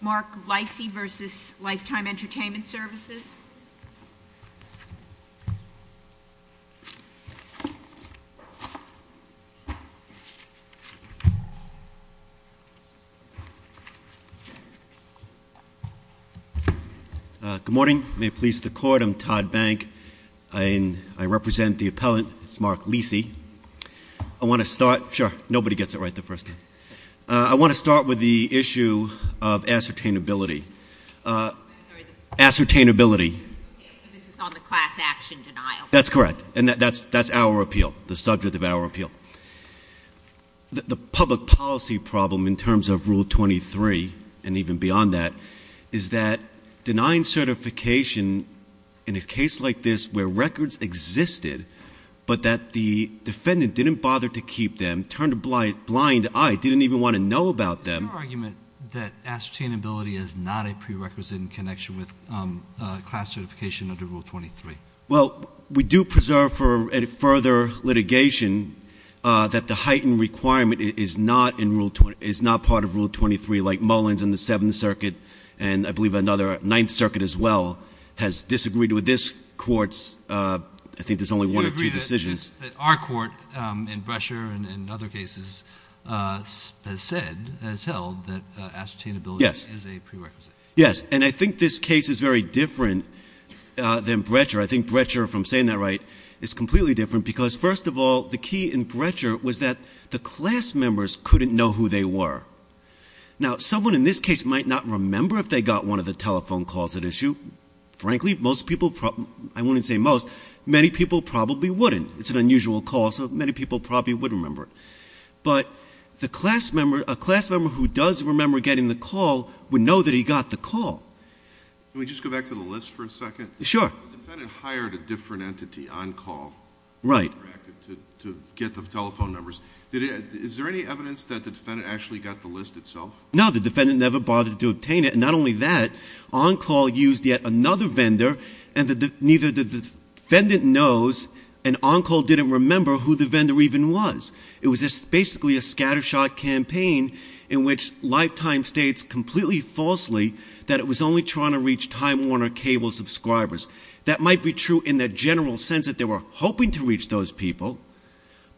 Mark Lisey v. Lifetime Entertainment Services. Good morning. May it please the Court, I'm Todd Bank. I represent the appellant, Mark Lisey. I want to start, sure, nobody gets it right the first time. I want to start with the issue of ascertainability. Ascertainability. This is on the class action denial. That's correct. And that's our appeal, the subject of our appeal. The public policy problem in terms of Rule 23, and even beyond that, is that denying certification in a case like this where records existed but that the defendant didn't bother to keep them, turned a blind eye, didn't even want to know about them. Is your argument that ascertainability is not a prerequisite in connection with class certification under Rule 23? Well, we do preserve for further litigation that the heightened requirement is not part of Rule 23, like Mullins in the Seventh Circuit, and I believe another, Ninth Circuit as well, has disagreed with this Court's, I think there's only one or two decisions. You agree that our Court, in Brecher and other cases, has said, has held, that ascertainability is a prerequisite. Yes, and I think this case is very different than Brecher. I think Brecher, if I'm saying that right, is completely different because, first of all, the key in Brecher was that the class members couldn't know who they were. Now, someone in this case might not remember if they got one of the telephone calls at issue. Frankly, most people, I wouldn't say most, many people probably wouldn't. It's an unusual call, so many people probably would remember it. But a class member who does remember getting the call would know that he got the call. Can we just go back to the list for a second? Sure. The defendant hired a different entity on call to get the telephone numbers. Is there any evidence that the defendant actually got the list itself? No, the defendant never bothered to obtain it. Not only that, on call used yet another vendor, and neither the defendant knows, and on call didn't remember who the vendor even was. It was basically a scattershot campaign in which Lifetime states completely falsely that it was only trying to reach Time Warner cable subscribers. That might be true in the general sense that they were hoping to reach those people,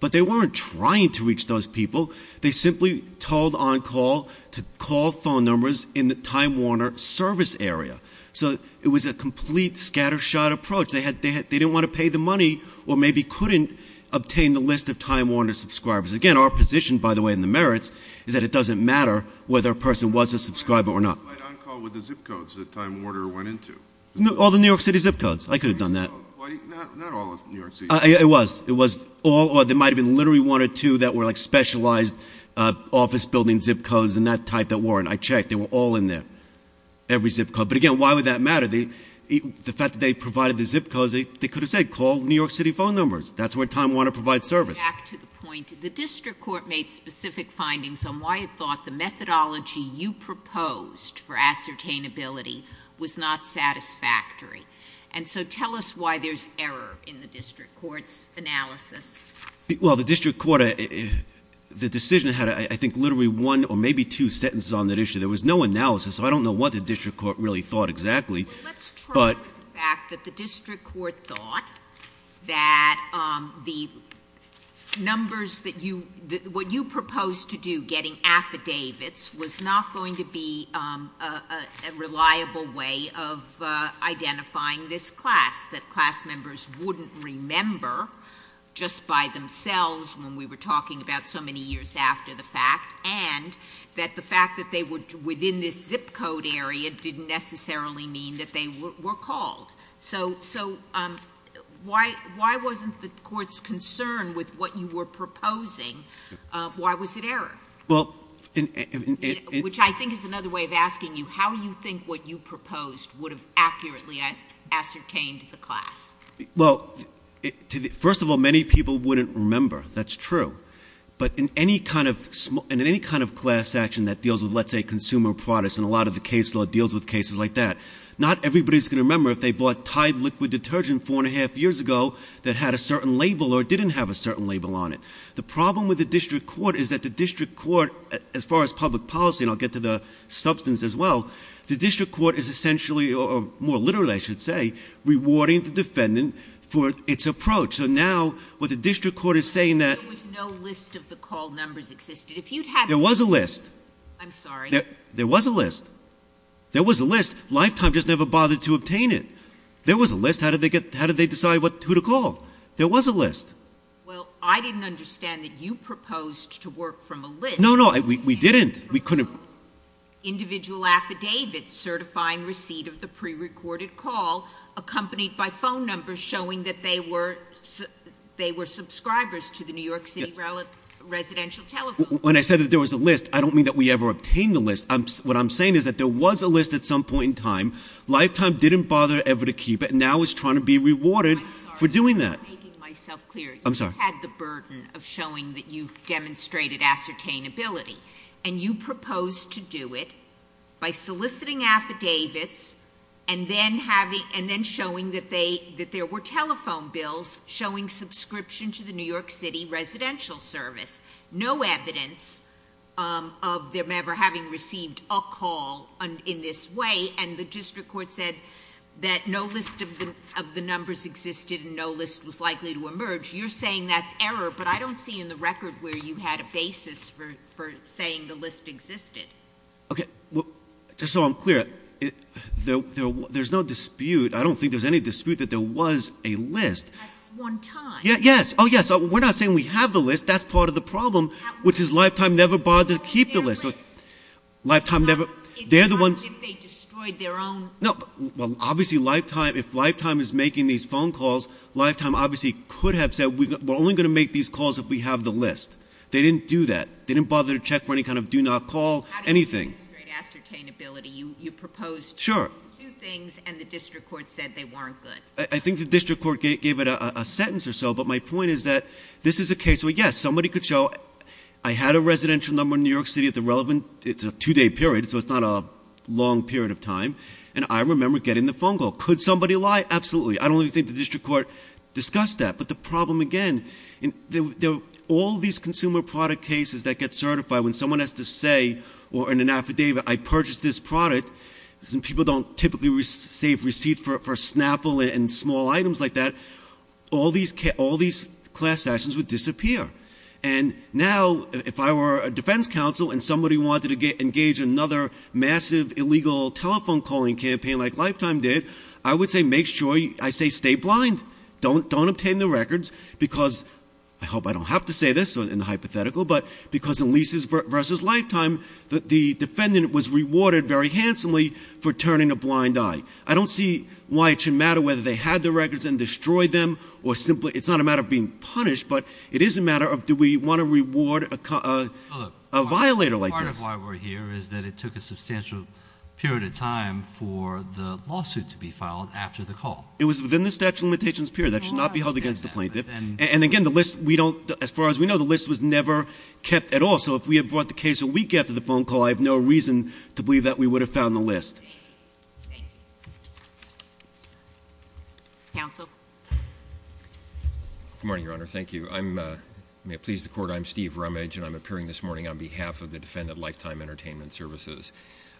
but they weren't trying to reach those people. They simply told on call to call phone numbers in the Time Warner service area. So it was a complete scattershot approach. They didn't want to pay the money or maybe couldn't obtain the list of Time Warner subscribers. Again, our position, by the way, in the merits is that it doesn't matter whether a person was a subscriber or not. On call with the zip codes that Time Warner went into. All the New York City zip codes. I could have done that. Not all of New York City. It was. It was all or there might have been literally one or two that were like specialized office building zip codes and that type that weren't. I checked. They were all in there. Every zip code. But again, why would that matter? The fact that they provided the zip codes, they could have said call New York City phone numbers. That's where Time Warner provides service. Back to the point. The district court made specific findings on why it thought the methodology you proposed for ascertainability was not satisfactory. And so tell us why there's error in the district court's analysis. Well, the district court, the decision had, I think, literally one or maybe two sentences on that issue. There was no analysis. I don't know what the district court really thought exactly. Well, let's try the fact that the district court thought that the numbers that you, what you proposed to do, getting affidavits, was not going to be a reliable way of identifying this class, that class members wouldn't remember just by themselves when we were talking about so many years after the fact, and that the fact that they were within this zip code area didn't necessarily mean that they were called. So why wasn't the court's concern with what you were proposing, why was it error? Well, in — Which I think is another way of asking you how you think what you proposed would have accurately ascertained the class. Well, first of all, many people wouldn't remember. That's true. But in any kind of class action that deals with, let's say, consumer products, and a lot of the case law deals with cases like that, not everybody's going to remember if they bought Tide liquid detergent four and a half years ago that had a certain label or didn't have a certain label on it. The problem with the district court is that the district court, as far as public policy, and I'll get to the substance as well, the district court is essentially, or more literally, I should say, rewarding the defendant for its approach. So now what the district court is saying that — There was no list of the call numbers existed. There was a list. I'm sorry. There was a list. There was a list. Lifetime just never bothered to obtain it. There was a list. How did they decide who to call? There was a list. Well, I didn't understand that you proposed to work from a list. No, no, we didn't. We couldn't — Individual affidavits certifying receipt of the prerecorded call accompanied by phone numbers showing that they were subscribers to the New York City Residential Telephone. When I said that there was a list, I don't mean that we ever obtained the list. What I'm saying is that there was a list at some point in time. Lifetime didn't bother ever to keep it and now is trying to be rewarded for doing that. I'm sorry. I'm making myself clear. I'm sorry. You had the burden of showing that you demonstrated ascertainability. And you proposed to do it by soliciting affidavits and then showing that there were telephone bills showing subscription to the New York City Residential Service. No evidence of them ever having received a call in this way. And the district court said that no list of the numbers existed and no list was likely to emerge. You're saying that's error, but I don't see in the record where you had a basis for saying the list existed. Okay. Just so I'm clear, there's no dispute. I don't think there's any dispute that there was a list. That's one time. Yes. Oh, yes. We're not saying we have the list. That's part of the problem, which is Lifetime never bothered to keep the list. Lifetime never — It's not as if they destroyed their own. Well, obviously, if Lifetime is making these phone calls, Lifetime obviously could have said, we're only going to make these calls if we have the list. They didn't do that. They didn't bother to check for any kind of do not call, anything. How did you demonstrate ascertainability? You proposed to do things and the district court said they weren't good. I think the district court gave it a sentence or so. But my point is that this is a case where, yes, somebody could show I had a residential number in New York City at the relevant — and I remember getting the phone call. Could somebody lie? Absolutely. I don't even think the district court discussed that. But the problem, again, all these consumer product cases that get certified, when someone has to say in an affidavit, I purchased this product, and people don't typically save receipts for a Snapple and small items like that, all these class actions would disappear. And now if I were a defense counsel and somebody wanted to engage in another massive illegal telephone calling campaign like Lifetime did, I would say make sure — I say stay blind. Don't obtain the records because — I hope I don't have to say this in the hypothetical — but because in Leases v. Lifetime, the defendant was rewarded very handsomely for turning a blind eye. I don't see why it should matter whether they had the records and destroyed them or simply — Do we want to reward a violator like this? Part of why we're here is that it took a substantial period of time for the lawsuit to be filed after the call. It was within the statute of limitations period. That should not be held against the plaintiff. And, again, the list we don't — as far as we know, the list was never kept at all. So if we had brought the case a week after the phone call, I have no reason to believe that we would have found the list. Thank you. Counsel? Good morning, Your Honor. Thank you. May it please the Court, I'm Steve Rumage, and I'm appearing this morning on behalf of the Defendant Lifetime Entertainment Services.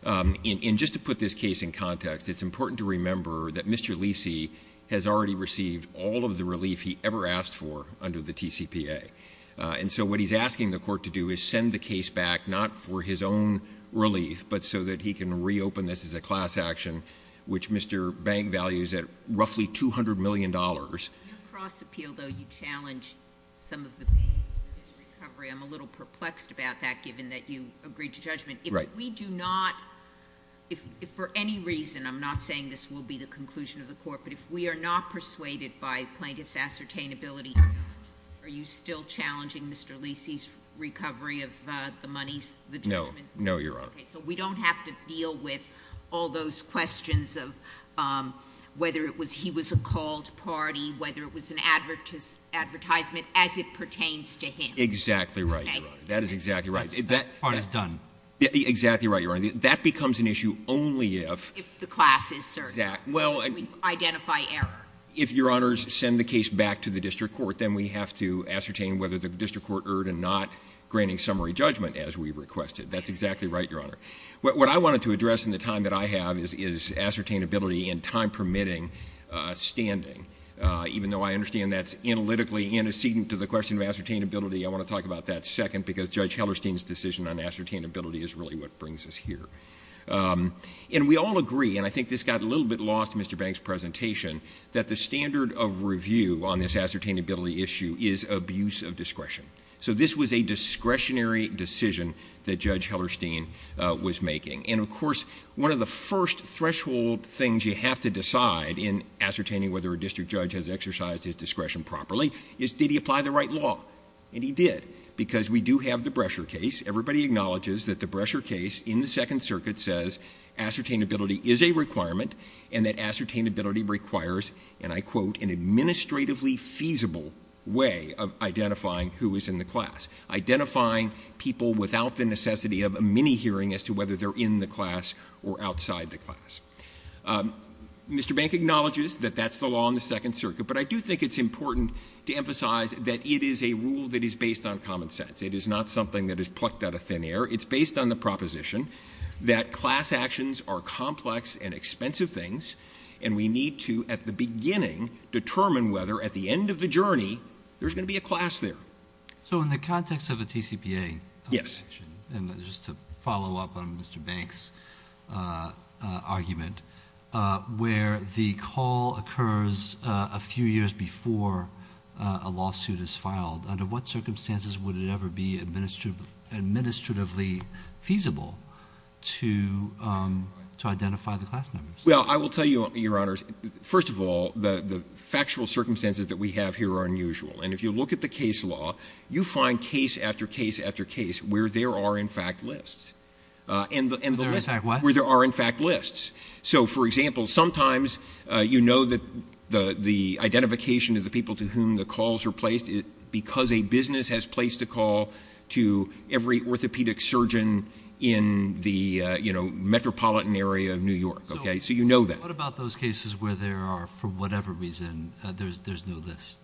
And just to put this case in context, it's important to remember that Mr. Lisi has already received all of the relief he ever asked for under the TCPA. And so what he's asking the Court to do is send the case back, not for his own relief, but so that he can reopen this as a class action, which Mr. Bank values at roughly $200 million. Your cross-appeal, though, you challenge some of the basis of his recovery. I'm a little perplexed about that, given that you agreed to judgment. Right. If we do not — if for any reason, I'm not saying this will be the conclusion of the Court, but if we are not persuaded by plaintiff's ascertainability, are you still challenging Mr. Lisi's recovery of the money, the judgment? No. No, Your Honor. Okay. So we don't have to deal with all those questions of whether it was he was a called party, whether it was an advertisement, as it pertains to him. Exactly right, Your Honor. That is exactly right. That part is done. Exactly right, Your Honor. That becomes an issue only if — If the class is certain. Exactly. Well — We identify error. If, Your Honors, send the case back to the District Court, then we have to ascertain whether the District Court erred in not granting summary judgment, as we requested. That's exactly right, Your Honor. What I wanted to address in the time that I have is ascertainability in time-permitting standing. Even though I understand that's analytically antecedent to the question of ascertainability, I want to talk about that second, because Judge Hellerstein's decision on ascertainability is really what brings us here. And we all agree, and I think this got a little bit lost in Mr. Banks' presentation, that the standard of review on this ascertainability issue is abuse of discretion. So this was a discretionary decision that Judge Hellerstein was making. And, of course, one of the first threshold things you have to decide in ascertaining whether a district judge has exercised his discretion properly is, did he apply the right law? And he did, because we do have the Brescher case. Everybody acknowledges that the Brescher case in the Second Circuit says ascertainability is a requirement and that ascertainability requires, and I quote, an administratively feasible way of identifying who is in the class, identifying people without the necessity of a mini-hearing as to whether they're in the class or outside the class. Mr. Bank acknowledges that that's the law in the Second Circuit, but I do think it's important to emphasize that it is a rule that is based on common sense. It is not something that is plucked out of thin air. It's based on the proposition that class actions are complex and expensive things, and we need to, at the beginning, determine whether, at the end of the journey, there's going to be a class there. So in the context of a TCPA section, and just to follow up on Mr. Bank's argument, where the call occurs a few years before a lawsuit is filed, under what circumstances would it ever be administratively feasible to identify the class members? Well, I will tell you, Your Honors, first of all, the factual circumstances that we have here are unusual. And if you look at the case law, you find case after case after case where there are, in fact, lists. Where there are, in fact, what? Where there are, in fact, lists. So, for example, sometimes you know that the identification of the people to whom the calls are placed, because a business has placed a call to every orthopedic surgeon in the metropolitan area of New York. So you know that. So what about those cases where there are, for whatever reason, there's no list?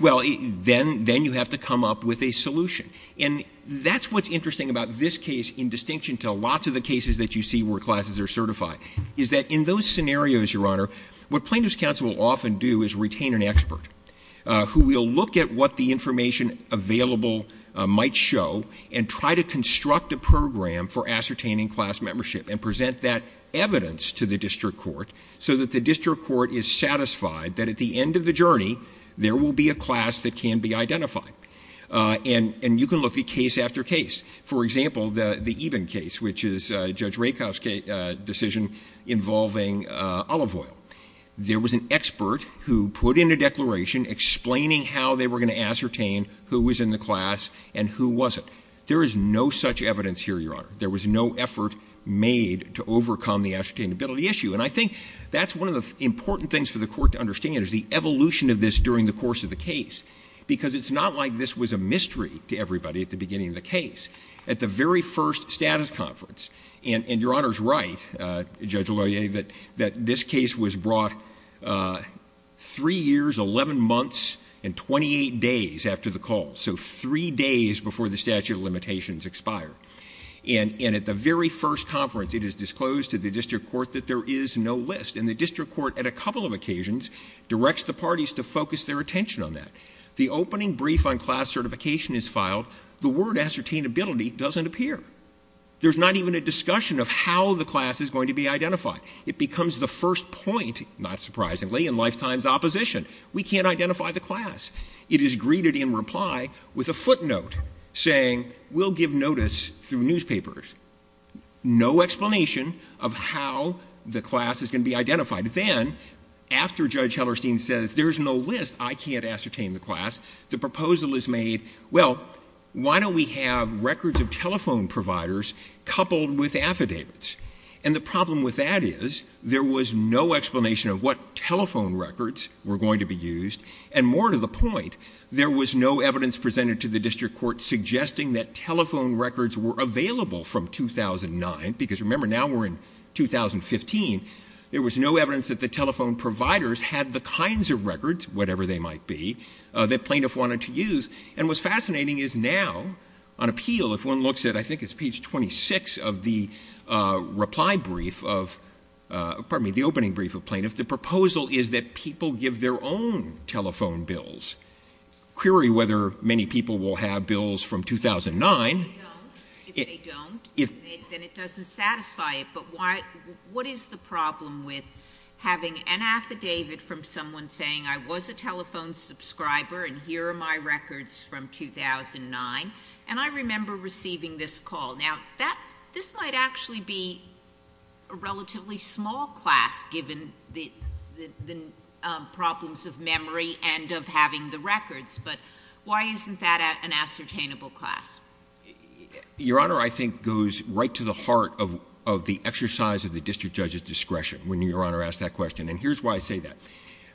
Well, then you have to come up with a solution. And that's what's interesting about this case, in distinction to lots of the cases that you see where classes are certified, is that in those scenarios, Your Honor, what plaintiffs' counsel will often do is retain an expert who will look at what the information available might show and try to construct a program for ascertaining class membership and present that evidence to the district court so that the district court is satisfied that at the end of the journey, there will be a class that can be identified. And you can look at case after case. For example, the Eben case, which is Judge Rakoff's decision involving olive oil. There was an expert who put in a declaration explaining how they were going to ascertain who was in the class and who wasn't. There is no such evidence here, Your Honor. There was no effort made to overcome the ascertainability issue. And I think that's one of the important things for the court to understand, is the evolution of this during the course of the case, because it's not like this was a mystery to everybody at the beginning of the case. At the very first status conference, and Your Honor's right, Judge O'Leary, that this case was brought three years, 11 months, and 28 days after the call, so three days before the statute of limitations expired. And at the very first conference, it is disclosed to the district court that there is no list. And the district court, at a couple of occasions, directs the parties to focus their attention on that. The opening brief on class certification is filed. The word ascertainability doesn't appear. There's not even a discussion of how the class is going to be identified. It becomes the first point, not surprisingly, in lifetime's opposition. We can't identify the class. It is greeted in reply with a footnote saying we'll give notice through newspapers. No explanation of how the class is going to be identified. Then, after Judge Hellerstein says there's no list, I can't ascertain the class, the proposal is made, well, why don't we have records of telephone providers coupled with affidavits? And the problem with that is there was no explanation of what telephone records were going to be used, and more to the point, there was no evidence presented to the district court suggesting that telephone records were available from 2009, because remember, now we're in 2015. There was no evidence that the telephone providers had the kinds of records, whatever they might be, that plaintiff wanted to use. And what's fascinating is now, on appeal, if one looks at, I think it's page 26 of the reply brief of, pardon me, the opening brief of plaintiffs, the proposal is that people give their own telephone bills, query whether many people will have bills from 2009. If they don't, then it doesn't satisfy it. But what is the problem with having an affidavit from someone saying I was a telephone subscriber and here are my records from 2009, and I remember receiving this call? Now, this might actually be a relatively small class, given the problems of memory and of having the records, but why isn't that an ascertainable class? Your Honor, I think goes right to the heart of the exercise of the district judge's discretion when Your Honor asks that question, and here's why I say that.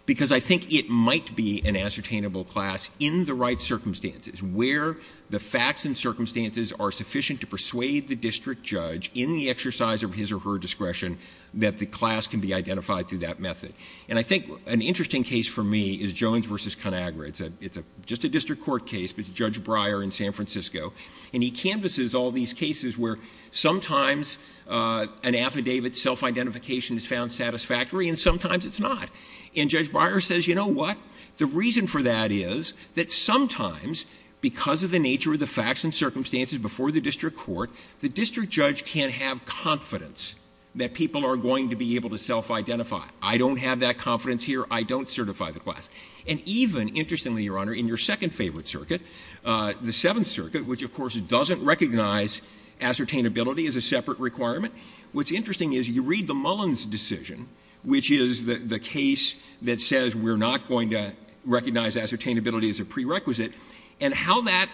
Because I think it might be an ascertainable class in the right circumstances, where the facts and circumstances are sufficient to persuade the district judge in the exercise of his or her discretion that the class can be identified through that method. And I think an interesting case for me is Jones v. Conagra. It's just a district court case, but it's Judge Breyer in San Francisco, and he canvasses all these cases where sometimes an affidavit self-identification is found satisfactory and sometimes it's not. And Judge Breyer says, you know what? The reason for that is that sometimes, because of the nature of the facts and circumstances before the district court, the district judge can have confidence that people are going to be able to self-identify. I don't have that confidence here. I don't certify the class. And even, interestingly, Your Honor, in your second favorite circuit, the Seventh Circuit, which of course doesn't recognize ascertainability as a separate requirement, what's interesting is you read the Mullins decision, which is the case that says we're not going to recognize ascertainability as a prerequisite, and how that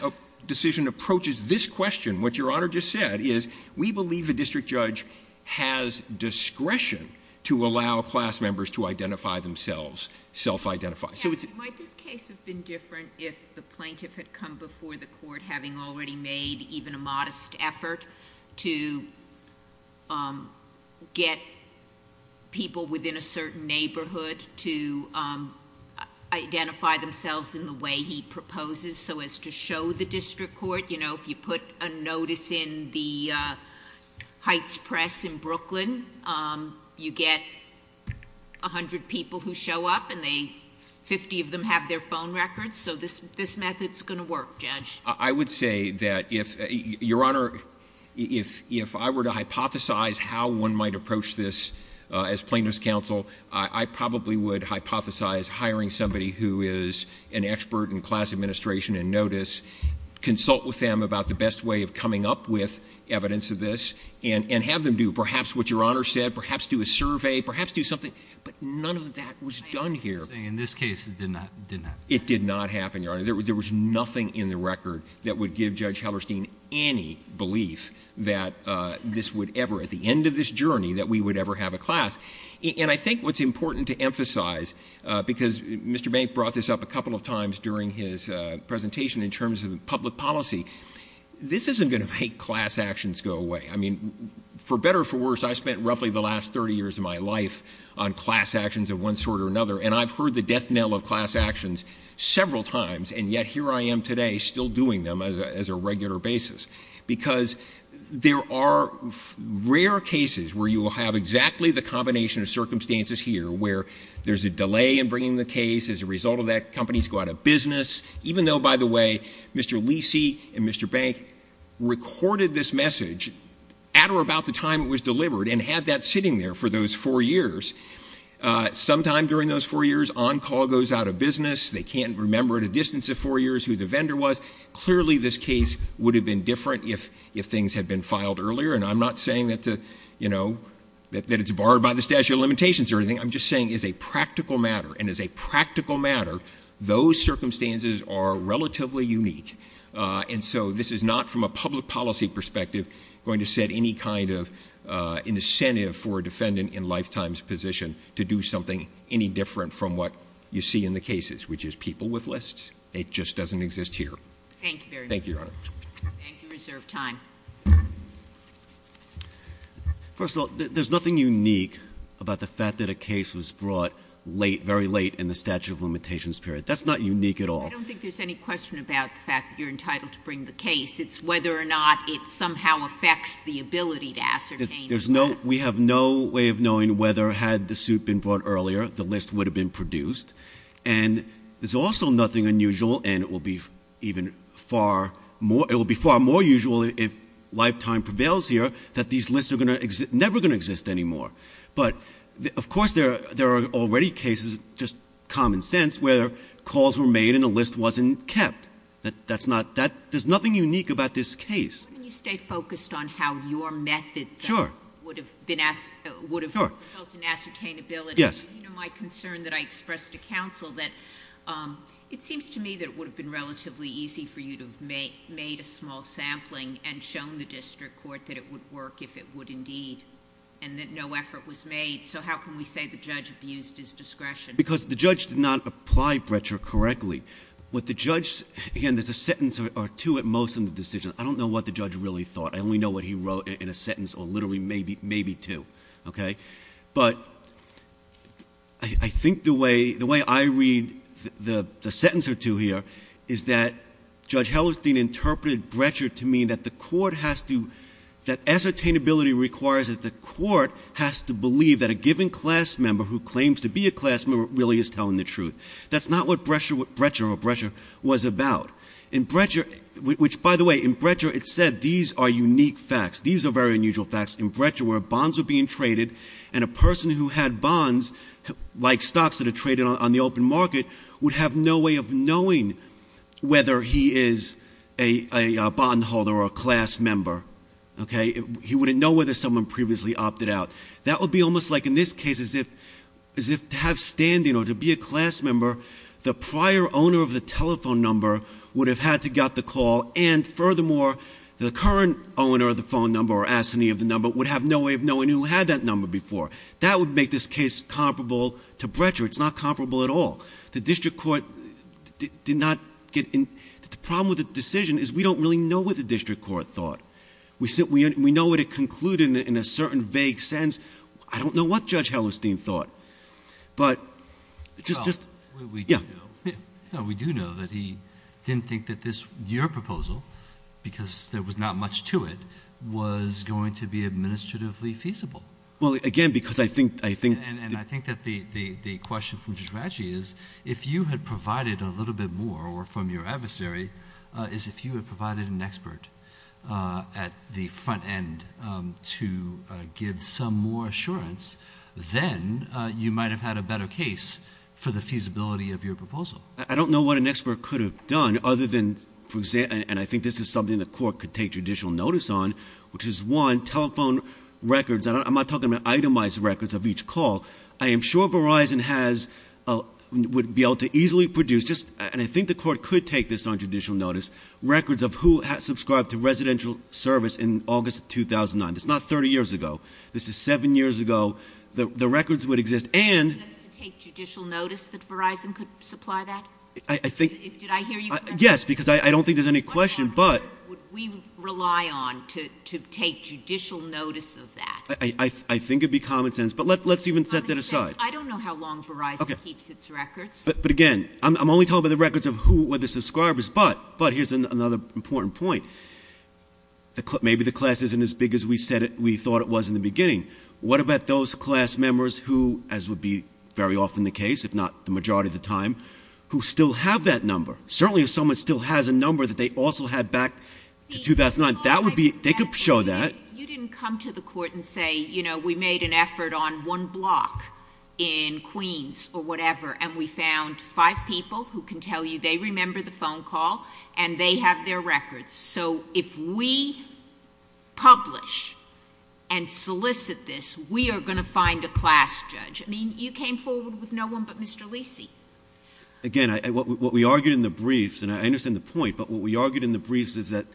decision approaches this question, what Your Honor just said, is we believe the district judge has discretion to allow class members to identify themselves, self-identify. So it's... Might this case have been different if the plaintiff had come before the court, having already made even a modest effort to get people within a certain neighborhood to identify themselves in the way he proposes so as to show the district court, you know, if you put a notice in the Heights Press in Brooklyn, you get 100 people who show up and 50 of them have their phone records. So this method is going to work, Judge. I would say that if, Your Honor, if I were to hypothesize how one might approach this as plaintiff's counsel, I probably would hypothesize hiring somebody who is an expert in class administration and notice, consult with them about the best way of coming up with evidence of this, and have them do perhaps what Your Honor said, perhaps do a survey, perhaps do something. But none of that was done here. In this case, it did not happen. It did not happen, Your Honor. There was nothing in the record that would give Judge Hellerstein any belief that this would ever, at the end of this journey, that we would ever have a class. And I think what's important to emphasize, because Mr. Bank brought this up a couple of times during his presentation in terms of public policy, this isn't going to make class actions go away. I mean, for better or for worse, I spent roughly the last 30 years of my life on class actions of one sort or another, and I've heard the death knell of class actions several times, and yet here I am today still doing them as a regular basis, because there are rare cases where you will have exactly the combination of circumstances here where there's a delay in bringing the case as a result of that, companies go out of business, even though, by the way, Mr. Leesey and Mr. Bank recorded this message at or about the time it was delivered and had that sitting there for those four years. Sometime during those four years, on-call goes out of business. They can't remember at a distance of four years who the vendor was. Clearly, this case would have been different if things had been filed earlier, and I'm not saying that it's barred by the statute of limitations or anything. I'm just saying it's a practical matter, and as a practical matter, those circumstances are relatively unique, and so this is not, from a public policy perspective, going to set any kind of incentive for a defendant in lifetime's position to do something any different from what you see in the cases, which is people with lists. It just doesn't exist here. Thank you very much. Thank you, Your Honor. Thank you. Reserve time. First of all, there's nothing unique about the fact that a case was brought late, very late in the statute of limitations period. That's not unique at all. I don't think there's any question about the fact that you're entitled to bring the case. It's whether or not it somehow affects the ability to ascertain the list. We have no way of knowing whether, had the suit been brought earlier, the list would have been produced, and there's also nothing unusual, and it will be far more usual if lifetime prevails here, that these lists are never going to exist anymore. But, of course, there are already cases, just common sense, where calls were made and a list wasn't kept. There's nothing unique about this case. Why don't you stay focused on how your method would have resulted in ascertainability? Yes. My concern that I expressed to counsel that it seems to me that it would have been relatively easy for you to have made a small sampling and shown the district court that it would work if it would indeed, and that no effort was made. So how can we say the judge abused his discretion? Because the judge did not apply Breccia correctly. What the judge—again, there's a sentence or two at most in the decision. I don't know what the judge really thought. I only know what he wrote in a sentence or literally maybe two. Okay? But I think the way I read the sentence or two here is that Judge Hellerstein interpreted Breccia to mean that the court has to— that ascertainability requires that the court has to believe that a given class member who claims to be a class member really is telling the truth. That's not what Breccia was about. In Breccia—which, by the way, in Breccia it said these are unique facts. These are very unusual facts. In Breccia where bonds were being traded and a person who had bonds, like stocks that are traded on the open market, would have no way of knowing whether he is a bondholder or a class member. Okay? He wouldn't know whether someone previously opted out. That would be almost like in this case as if to have standing or to be a class member, the prior owner of the telephone number would have had to get the call and, furthermore, the current owner of the phone number or assignee of the number would have no way of knowing who had that number before. That would make this case comparable to Breccia. It's not comparable at all. The district court did not get—the problem with the decision is we don't really know what the district court thought. We know what it concluded in a certain vague sense. I don't know what Judge Hellerstein thought. But just— We do know that he didn't think that this—your proposal, because there was not much to it, was going to be administratively feasible. Well, again, because I think— And I think that the question from Judge Ratchey is if you had provided a little bit more or from your adversary is if you had provided an expert at the front end to give some more assurance, then you might have had a better case for the feasibility of your proposal. I don't know what an expert could have done other than—and I think this is something the court could take judicial notice on, which is, one, telephone records. I'm not talking about itemized records of each call. I am sure Verizon has—would be able to easily produce, and I think the court could take this on judicial notice, records of who subscribed to residential service in August 2009. This is not 30 years ago. This is 7 years ago. The records would exist. And— Just to take judicial notice that Verizon could supply that? I think— Did I hear you correctly? Yes, because I don't think there's any question, but— What record would we rely on to take judicial notice of that? I think it would be common sense, but let's even set that aside. Common sense. I don't know how long Verizon keeps its records. But, again, I'm only talking about the records of who were the subscribers. But here's another important point. Maybe the class isn't as big as we said it—we thought it was in the beginning. What about those class members who, as would be very often the case, if not the majority of the time, who still have that number? Certainly if someone still has a number that they also had back to 2009, that would be—they could show that. You didn't come to the court and say, you know, we made an effort on one block in Queens or whatever, and we found five people who can tell you they remember the phone call and they have their records. So if we publish and solicit this, we are going to find a class judge. I mean, you came forward with no one but Mr. Lisi. Again, what we argued in the briefs, and I understand the point, but what we argued in the briefs is that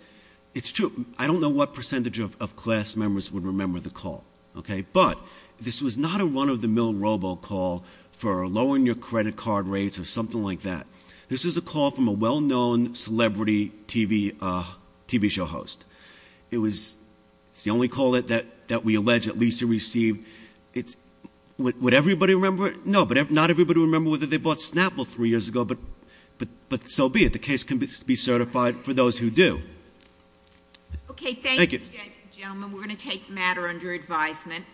it's true. I don't know what percentage of class members would remember the call, okay? But this was not a run-of-the-mill robocall for lowering your credit card rates or something like that. This was a call from a well-known celebrity TV show host. It was the only call that we allege that Lisi received. Would everybody remember it? No, but not everybody would remember whether they bought Snapple three years ago, but so be it. The case can be certified for those who do. Okay, thank you, gentlemen. We're going to take the matter under advisement.